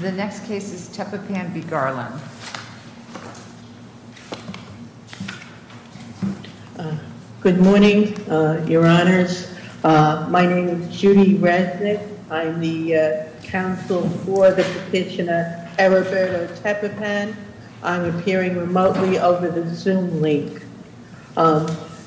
The next case is Tepepan v. Garland. Good morning, your honors. My name is Judy Resnick. I'm the counsel for the petitioner Heriberto Tepepan. I'm appearing remotely over the Zoom link.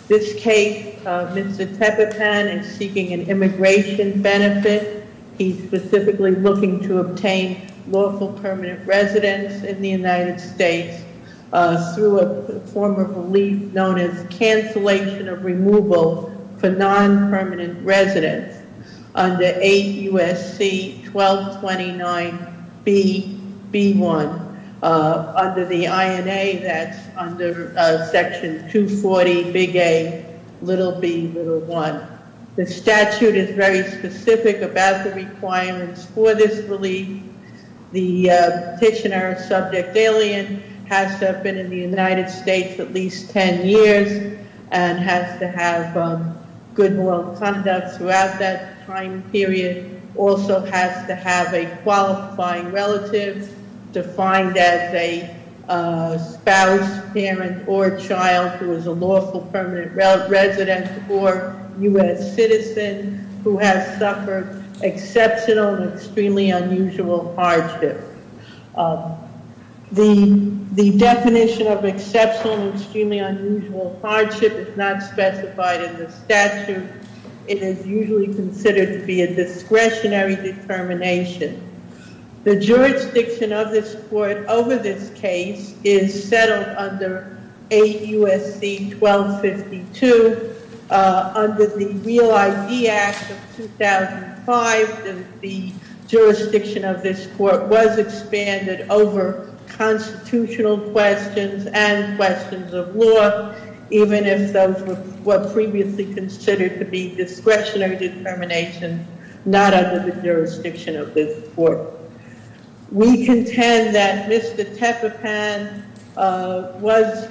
This case, Mr. Tepepan is seeking an immigration benefit. He's specifically looking to obtain lawful permanent residence in the United States through a form of relief known as cancellation of removal for non-permanent residence under 8 U.S.C. 1229 B.B.1. Under the INA, that's under Section 240, Big A, little b, little 1. The statute is very specific about the requirements for this relief. The petitioner, subject alien, has to have been in the United States at least 10 years and has to have good moral conduct throughout that time period, also has to have a qualifying relative defined as a spouse, parent, or child who is a lawful permanent resident or U.S. citizen who has suffered exceptional and extremely unusual hardship. The definition of exceptional and extremely unusual hardship is not specified in the statute. It is usually considered to be a discretionary determination. The jurisdiction of this court over this case is settled under 8 U.S.C. 1252. Under the Real ID Act of 2005, the jurisdiction of this court was expanded over constitutional questions and questions of law, even if those were previously considered to be discretionary determination, not under the jurisdiction of this court. We contend that Mr. Tepepan was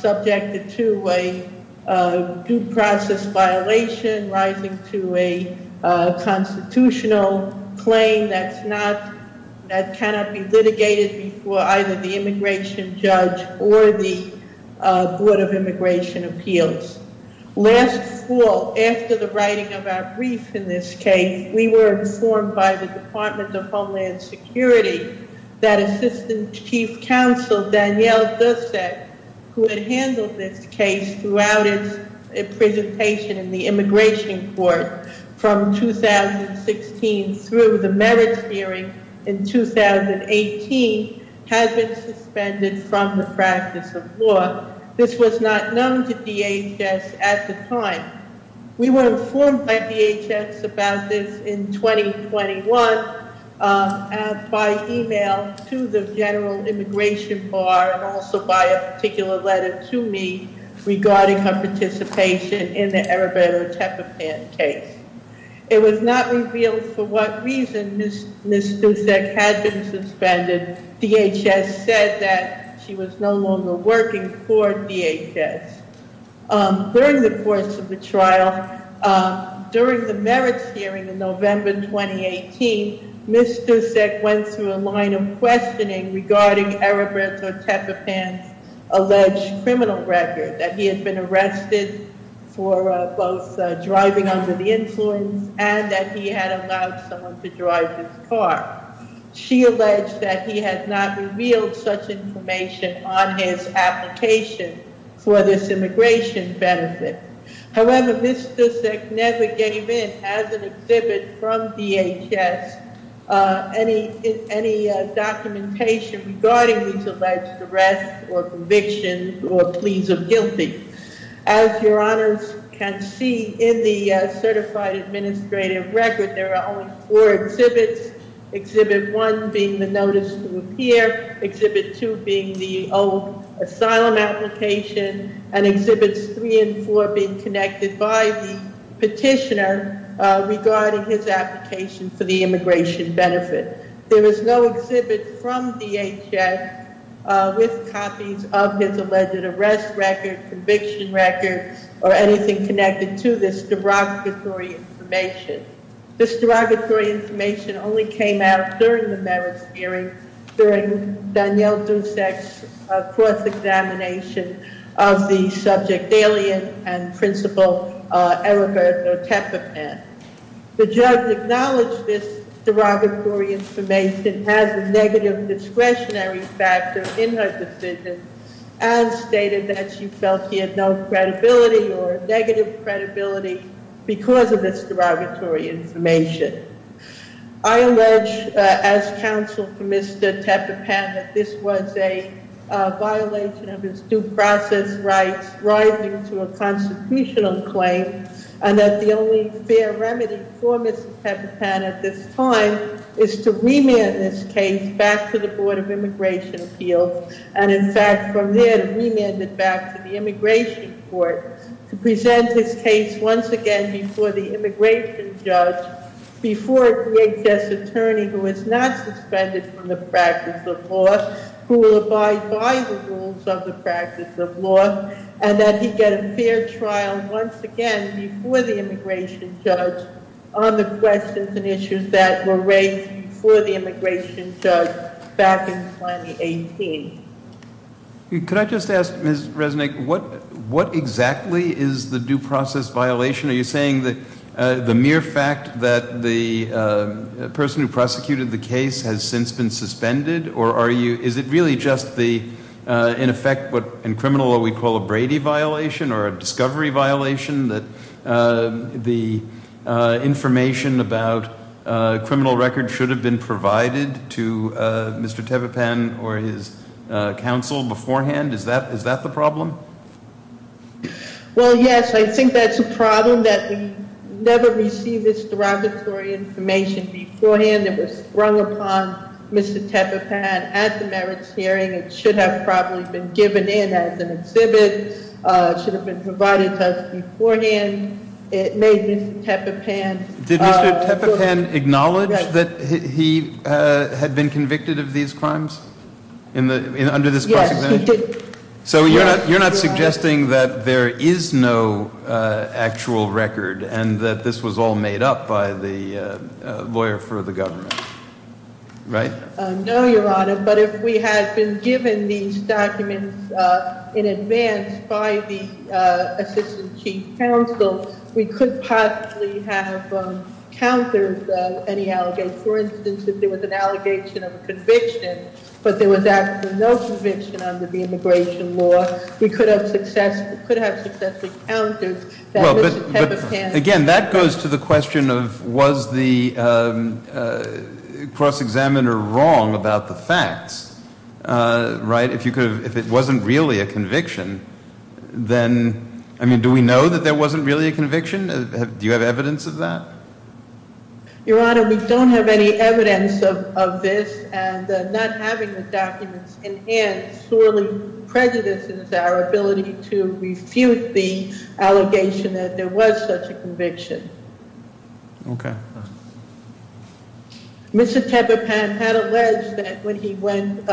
subjected to a due process violation rising to a constitutional claim that cannot be litigated before either the immigration judge or the Board of Immigration Appeals. Last fall, after the writing of our brief in this case, we were informed by the Department of Homeland Security that Assistant Chief Counsel Danielle Dussek, who had handled this case throughout its presentation in the immigration court from 2016 through the merits hearing in 2018, had been suspended from the practice of law. This was not known to DHS at the time. We were informed by DHS about this in 2021 by email to the General Immigration Bar and also by a particular letter to me regarding her participation in the Heriberto Tepepan case. It was not revealed for what reason Ms. Dussek had been suspended. DHS said that she was no longer working for DHS. During the course of the trial, during the merits hearing in November 2018, Ms. Dussek went through a line of questioning regarding Heriberto Tepepan's alleged criminal record, that he had been arrested for both driving under the influence and that he had allowed someone to drive his car. She alleged that he had not revealed such information on his application for this immigration benefit. However, Ms. Dussek never gave in, as an exhibit from DHS, any documentation regarding these alleged arrests or convictions or pleas of guilty. As your honors can see in the certified administrative record, there are only four exhibits, exhibit one being the notice to appear, exhibit two being the old asylum application, and exhibits three and four being connected by the petitioner regarding his application for the immigration benefit. There is no exhibit from DHS with copies of his alleged arrest record, conviction record, or anything connected to this derogatory information. This derogatory information only came out during the merits hearing during Danielle Dussek's cross-examination of the subject alien and principal Heriberto Tepepan. The judge acknowledged this derogatory information has a negative discretionary factor in her decision and stated that she felt he had no credibility or negative credibility because of this derogatory information. I allege, as counsel for Mr. Tepepan, that this was a violation of his due process rights rising to a constitutional claim and that the only fair remedy for Mr. Tepepan at this time is to remand this case back to the Board of Immigration Appeals and, in fact, from there to remand it back to the Immigration Court to present this case once again before the immigration judge before a DHS attorney who is not suspended from the practice of law who will abide by the rules of the practice of law and that he get a fair trial once again before the immigration judge on the questions and issues that were raised before the immigration judge back in 2018. Could I just ask, Ms. Resnick, what exactly is the due process violation? Are you saying the mere fact that the person who prosecuted the case has since been suspended, or is it really just the, in effect, what in criminal law we call a Brady violation or a discovery violation that the information about criminal record should have been provided to Mr. Tepepan or his counsel beforehand? Is that the problem? Well, yes, I think that's a problem that we never received this derogatory information beforehand that was sprung upon Mr. Tepepan at the merits hearing. It should have probably been given in as an exhibit, should have been provided to us beforehand. It made Mr. Tepepan- Did Mr. Tepepan acknowledge that he had been convicted of these crimes under this cross-examination? Yes, he did. So you're not suggesting that there is no actual record and that this was all made up by the lawyer for the government, right? No, Your Honor, but if we had been given these documents in advance by the assistant chief counsel, we could possibly have countered any allegations. For instance, if there was an allegation of conviction, but there was actually no conviction under the immigration law, we could have successfully countered that Mr. Tepepan- Again, that goes to the question of was the cross-examiner wrong about the facts, right? If it wasn't really a conviction, then, I mean, do we know that there wasn't really a conviction? Do you have evidence of that? Your Honor, we don't have any evidence of this and not having the documents in hand sorely prejudices our ability to refute the allegation that there was such a conviction. Okay. Mr. Tepepan had alleged that when he went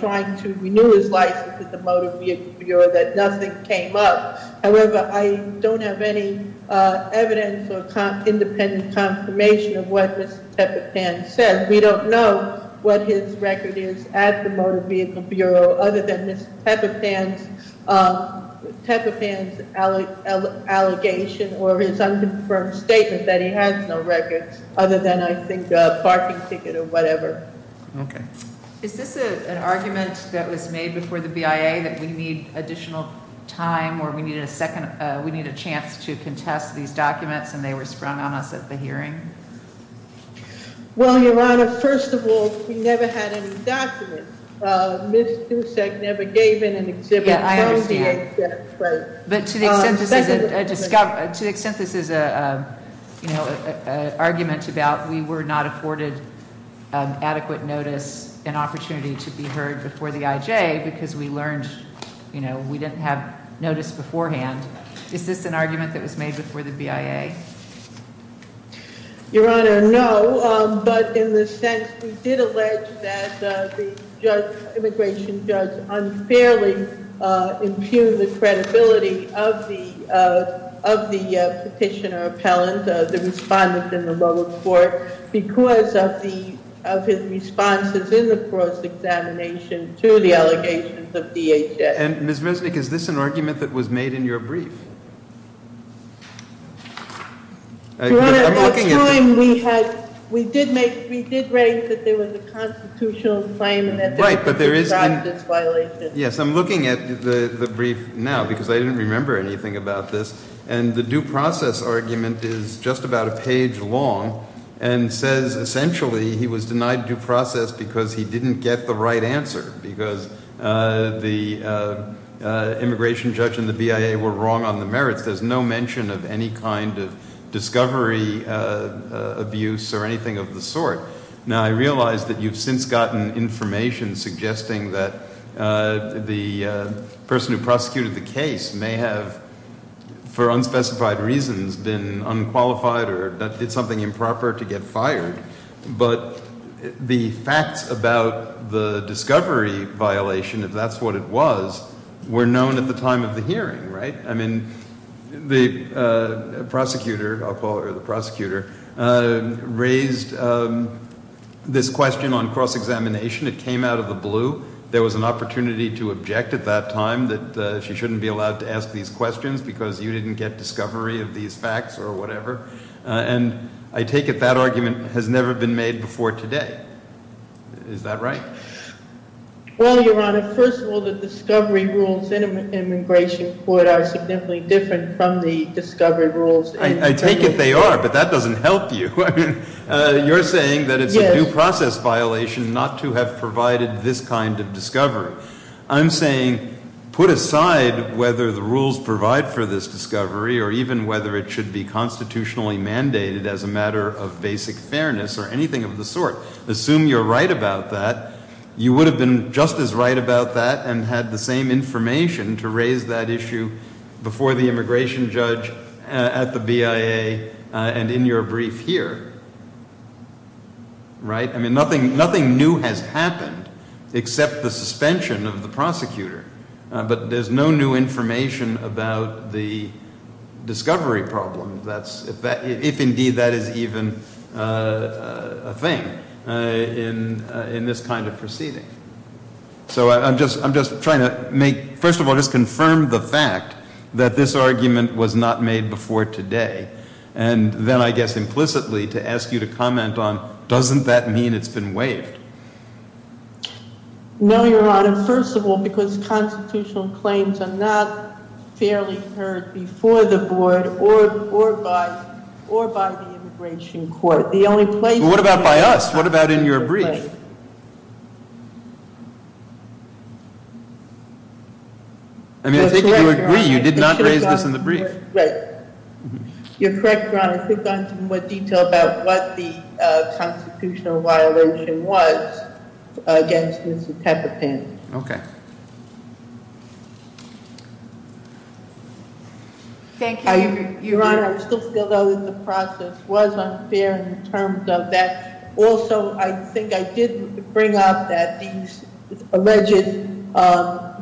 trying to renew his license at the motor vehicle bureau that nothing came up. However, I don't have any evidence or independent confirmation of what Mr. Tepepan said. We don't know what his record is at the motor vehicle bureau other than Mr. Tepepan's allegation or his unconfirmed statement that he has no record other than, I think, a parking ticket or whatever. Okay. Is this an argument that was made before the BIA that we need additional time or we need a chance to contest these documents and they were sprung on us at the hearing? Well, Your Honor, first of all, we never had any documents. Ms. Dussek never gave in an exhibit. Yeah, I understand. But to the extent this is a, you know, argument about we were not afforded adequate notice and opportunity to be heard before the IJ because we learned, you know, we didn't have notice beforehand. Is this an argument that was made before the BIA? Your Honor, no, but in the sense we did allege that the immigration judge unfairly impugned the credibility of the petitioner appellant, the respondent in the lower court, because of his responses in the cross-examination to the allegations of DHS. And Ms. Mesnick, is this an argument that was made in your brief? Your Honor, at the time, we did make, we did raise that there was a constitutional claim and that there was a prejudice violation. Yes, I'm looking at the brief now because I didn't remember anything about this, and the due process argument is just about a page long and says essentially he was denied due process because he didn't get the right answer because the immigration judge and the BIA were wrong on the merits. There's no mention of any kind of discovery abuse or anything of the sort. Now, I realize that you've since gotten information suggesting that the person who prosecuted the case may have, for unspecified reasons, been unqualified or did something improper to get fired, but the facts about the discovery violation, if that's what it was, were known at the time of the hearing, right? I mean, the prosecutor, I'll call her the prosecutor, raised this question on cross-examination. It came out of the blue. There was an opportunity to object at that time that she shouldn't be allowed to ask these questions because you didn't get discovery of these facts or whatever. And I take it that argument has never been made before today. Is that right? Well, Your Honor, first of all, the discovery rules in an immigration court are significantly different from the discovery rules. I take it they are, but that doesn't help you. You're saying that it's a due process violation not to have provided this kind of discovery. I'm saying put aside whether the rules provide for this discovery or even whether it should be constitutionally mandated as a matter of basic fairness or anything of the sort. Assume you're right about that. You would have been just as right about that and had the same information to raise that issue before the immigration judge at the BIA and in your brief here, right? except the suspension of the prosecutor. But there's no new information about the discovery problem if indeed that is even a thing in this kind of proceeding. So I'm just trying to make... First of all, just confirm the fact that this argument was not made before today and then I guess implicitly to ask you to comment on doesn't that mean it's been waived? No, Your Honor, first of all, because constitutional claims are not fairly heard before the board or by the immigration court. What about by us? What about in your brief? I mean, I think you agree you did not raise this in the brief. Right. You're correct, Your Honor. I could go into more detail about what the constitutional violation was against Mr. Tepepin. Okay. Thank you. Your Honor, I still feel though that the process was unfair in terms of that. Also, I think I did bring up that these alleged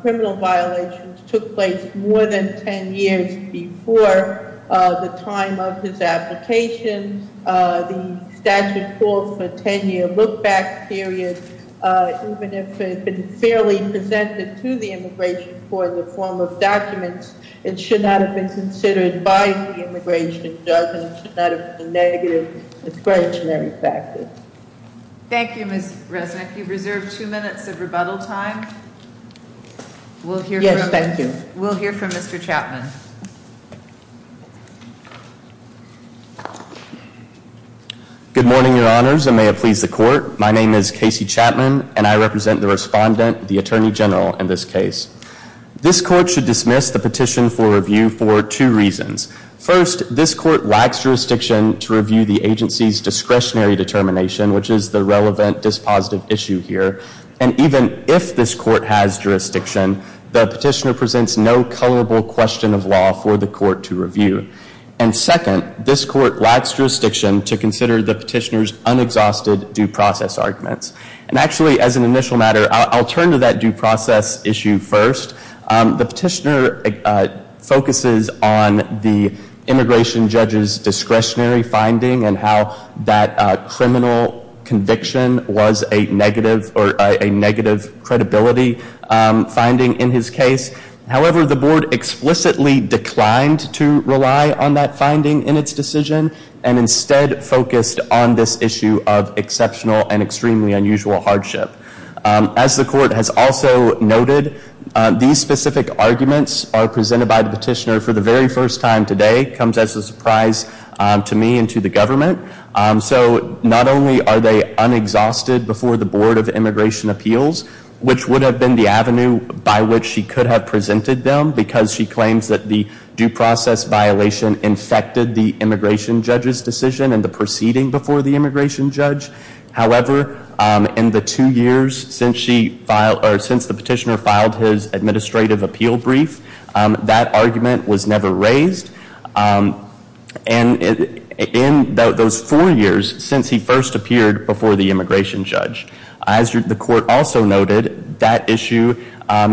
criminal violations took place more than 10 years before the time of his application. The statute calls for a 10-year look-back period. Even if it had been fairly presented to the immigration court in the form of documents, it should not have been considered by the immigration judge and should not have been a negative discretionary factor. Thank you, Ms. Resnick. You've reserved two minutes of rebuttal time. Yes, thank you. We'll hear from Mr. Chapman. Good morning, Your Honors, and may it please the court. My name is Casey Chapman, and I represent the respondent, the Attorney General, in this case. This court should dismiss the petition for review for two reasons. First, this court lacks jurisdiction to review the agency's discretionary determination, which is the relevant dispositive issue here. And even if this court has jurisdiction, And second, this court lacks jurisdiction to consider the petitioner's unexhausted due process arguments. And actually, as an initial matter, I'll turn to that due process issue first. The petitioner focuses on the immigration judge's discretionary finding and how that criminal conviction was a negative credibility finding in his case. However, the board explicitly declined to rely on that finding in its decision and instead focused on this issue of exceptional and extremely unusual hardship. As the court has also noted, these specific arguments are presented by the petitioner for the very first time today. It comes as a surprise to me and to the government. So not only are they unexhausted before the Board of Immigration Appeals, which would have been the avenue by which she could have presented them because she claims that the due process violation infected the immigration judge's decision and the proceeding before the immigration judge. However, in the two years since the petitioner filed his administrative appeal brief, that argument was never raised. And in those four years since he first appeared before the immigration judge. As the court also noted, that issue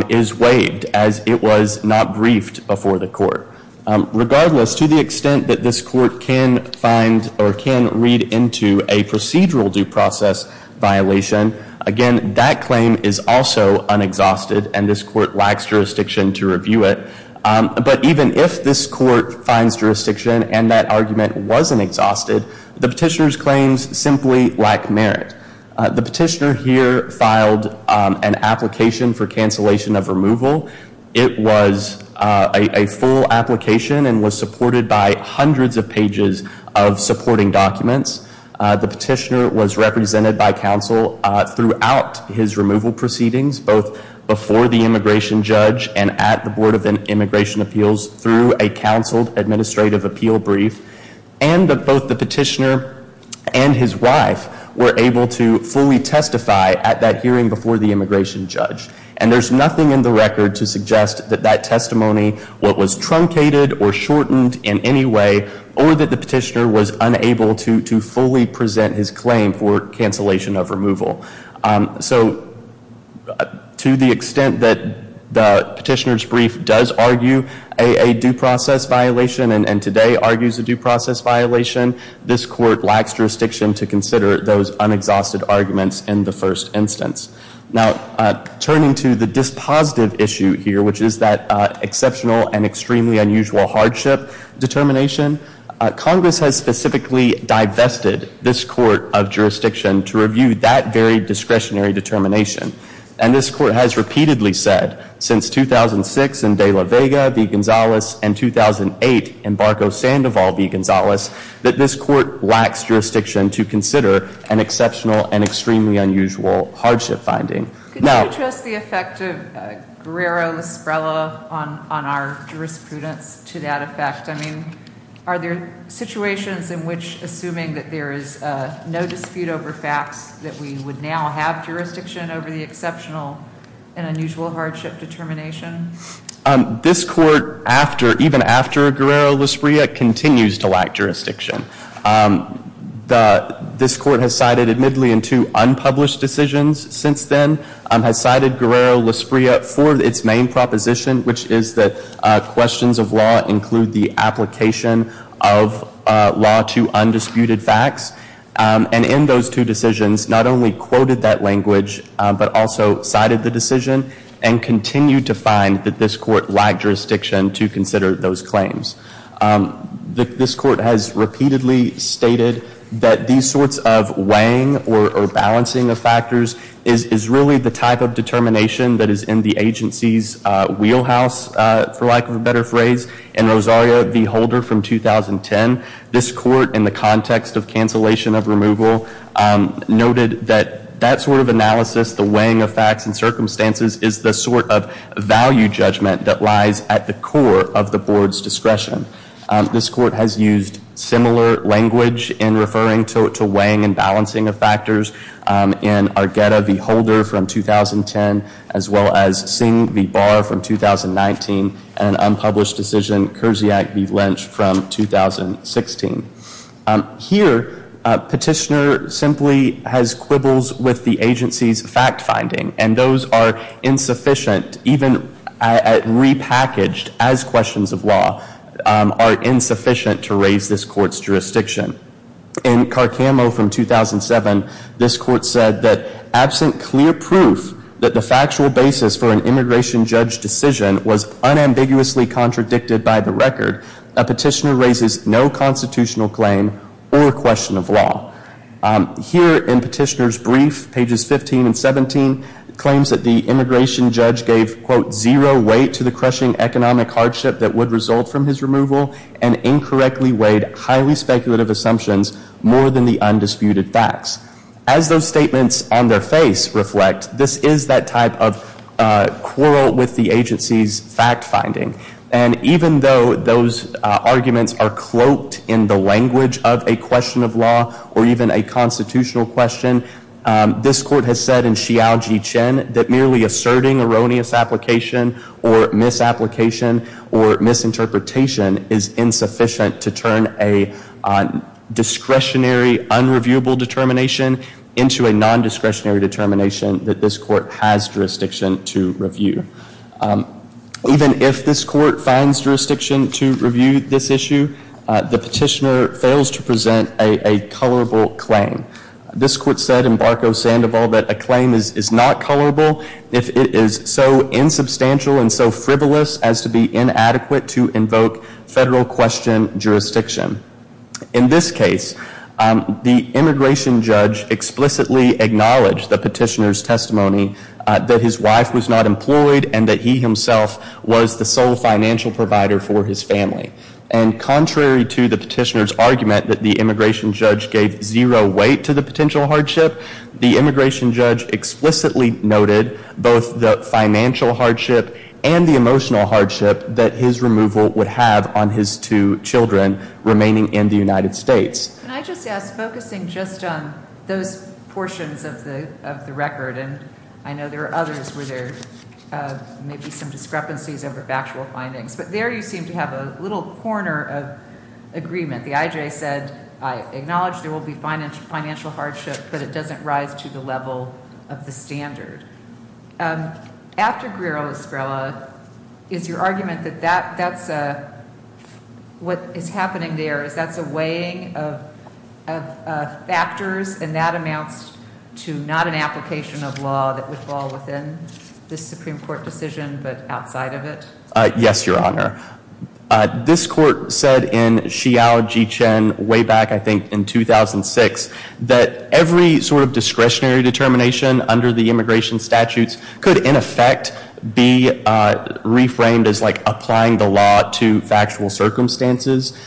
is waived as it was not briefed before the court. Regardless, to the extent that this court can find or can read into a procedural due process violation, again, that claim is also unexhausted and this court lacks jurisdiction to review it. But even if this court finds jurisdiction and that argument wasn't exhausted, the petitioner's claims simply lack merit. The petitioner here filed an application for cancellation of removal. It was a full application and was supported by hundreds of pages of supporting documents. The petitioner was represented by counsel throughout his removal proceedings, both before the immigration judge and at the Board of Immigration Appeals through a counseled administrative appeal brief. And both the petitioner and his wife were able to fully testify at that hearing before the immigration judge. And there's nothing in the record to suggest that that testimony was truncated or shortened in any way or that the petitioner was unable to fully present his claim for cancellation of removal. So, to the extent that the petitioner's brief does argue a due process violation and today argues a due process violation, this court lacks jurisdiction to consider those unexhausted arguments in the first instance. Now, turning to the dispositive issue here, which is that exceptional and extremely unusual hardship determination, Congress has specifically divested this court of jurisdiction to review that very discretionary determination. And this court has repeatedly said, since 2006 in De La Vega v. Gonzalez and 2008 in Barco-Sandoval v. Gonzalez, that this court lacks jurisdiction to consider an exceptional and extremely unusual hardship finding. Could you address the effect of Guerrero-Lisbrella on our jurisprudence to that effect? I mean, are there situations in which, assuming that there is no dispute over facts, that we would now have jurisdiction over the exceptional and unusual hardship determination? This court, even after Guerrero-Lisbrella, continues to lack jurisdiction. This court has cited, admittedly, in two unpublished decisions since then, has cited Guerrero-Lisbrella for its main proposition, which is that questions of law include the application of law to undisputed facts. And in those two decisions, not only quoted that language, but also cited the decision and continued to find that this court lacked jurisdiction to consider those claims. This court has repeatedly stated that these sorts of weighing or balancing of factors is really the type of determination that is in the agency's wheelhouse, for lack of a better phrase. In Rosario v. Holder from 2010, this court, in the context of cancellation of removal, noted that that sort of analysis, the weighing of facts and circumstances, is the sort of value judgment that lies at the core of the board's discretion. This court has used similar language in referring to weighing and balancing of factors in Argueta v. Holder from 2010, as well as Singh v. Barr from 2019, and an unpublished decision, Kersiak v. Lynch from 2016. Here, Petitioner simply has quibbles with the agency's fact-finding, and those are insufficient, even repackaged as questions of law, are insufficient to raise this court's jurisdiction. In Carcamo from 2007, this court said that, absent clear proof that the factual basis for an immigration judge decision was unambiguously contradicted by the record, Here, in Petitioner's brief, pages 15 and 17, claims that the immigration judge gave, quote, As those statements on their face reflect, this is that type of quarrel with the agency's fact-finding. And even though those arguments are cloaked in the language of a question of law, or even a constitutional question, this court has said in Xiaoji Chen, that merely asserting erroneous application or misapplication or misinterpretation is insufficient to turn a discretionary, unreviewable determination into a nondiscretionary determination that this court has jurisdiction to review. Even if this court finds jurisdiction to review this issue, the petitioner fails to present a colorable claim. This court said in Barco-Sandoval that a claim is not colorable if it is so insubstantial and so frivolous as to be inadequate to invoke federal question jurisdiction. In this case, the immigration judge explicitly acknowledged the petitioner's testimony that his wife was not employed and that he himself was the sole financial provider for his family. And contrary to the petitioner's argument that the immigration judge gave zero weight to the potential hardship, the immigration judge explicitly noted both the financial hardship and the emotional hardship that his removal would have on his two children remaining in the United States. Can I just ask, focusing just on those portions of the record, and I know there are others where there may be some discrepancies over factual findings, but there you seem to have a little corner of agreement. The I.J. said, I acknowledge there will be financial hardship, but it doesn't rise to the level of the standard. After Guerrero-Estrella, is your argument that that's what is happening there, is that's a weighing of factors and that amounts to not an application of law that would fall within this Supreme Court decision but outside of it? Yes, Your Honor. This court said in Xiao Jichen way back I think in 2006 that every sort of discretionary determination under the immigration statutes could in effect be reframed as like applying the law to factual circumstances.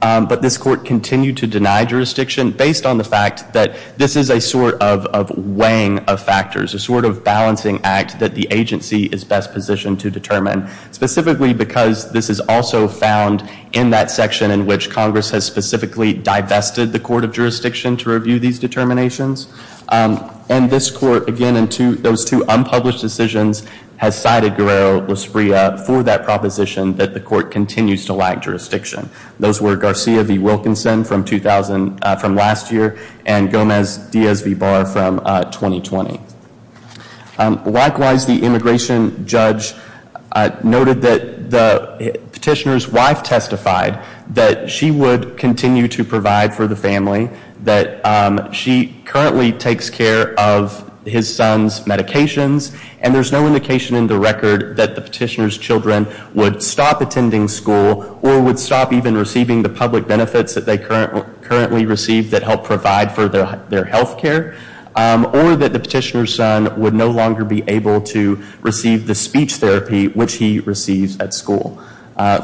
But this court continued to deny jurisdiction based on the fact that this is a sort of weighing of factors, a sort of balancing act that the agency is best positioned to determine, specifically because this is also found in that section in which Congress has specifically divested the court of jurisdiction to review these determinations. And this court, again, in those two unpublished decisions, has cited Guerrero-Estrella for that proposition that the court continues to lack jurisdiction. Those were Garcia v. Wilkinson from last year and Gomez-Diaz v. Barr from 2020. Likewise, the immigration judge noted that the petitioner's wife testified that she would continue to provide for the family, that she currently takes care of his son's medications, and there's no indication in the record that the petitioner's children would stop attending school or would stop even receiving the public benefits that they currently receive that help provide for their health care, or that the petitioner's son would no longer be able to receive the speech therapy which he receives at school.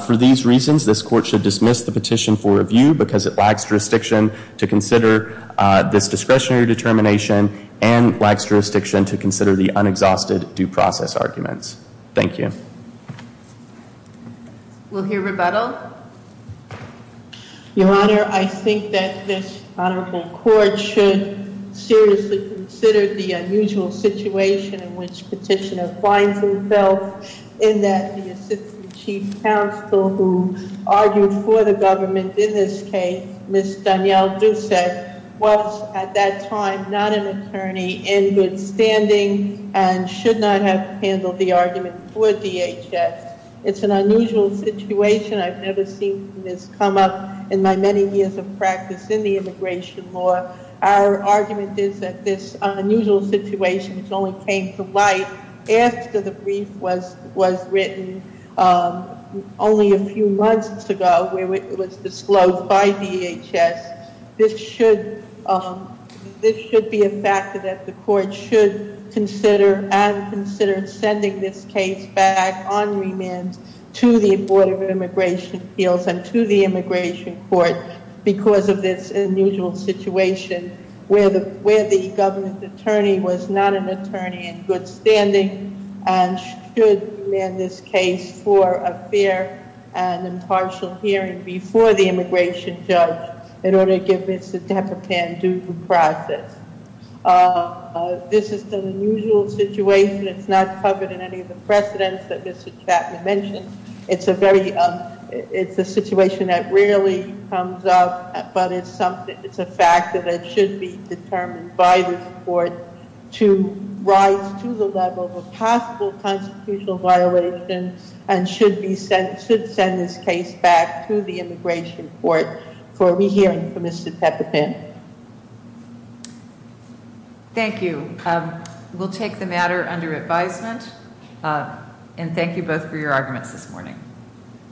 For these reasons, this court should dismiss the petition for review because it lacks jurisdiction to consider this discretionary determination and lacks jurisdiction to consider the unexhausted due process arguments. Thank you. We'll hear rebuttal. Your Honor, I think that this honorable court should seriously consider the unusual situation in which petitioner finds himself in that the assistant chief counsel who argued for the government in this case, Ms. Danielle Doucette, was at that time not an attorney in good standing and should not have handled the argument for DHS. It's an unusual situation. I've never seen this come up in my many years of practice in the immigration law. Our argument is that this unusual situation which only came to light after the brief was written only a few months ago where it was disclosed by DHS, this should be a factor that the court should consider and consider sending this case back on remand to the Board of Immigration Appeals and to the immigration court because of this unusual situation where the government attorney was not an attorney in good standing and should remand this case for a fair and impartial hearing before the immigration judge in order to give Mr. Depopan due process. This is an unusual situation. It's not covered in any of the precedents that Mr. Chapman mentioned. It's a situation that rarely comes up, but it's a factor that should be determined by the court to rise to the level of possible constitutional violations and should send this case back to the immigration court for a rehearing for Mr. Depopan. Thank you. We'll take the matter under advisement, and thank you both for your arguments this morning.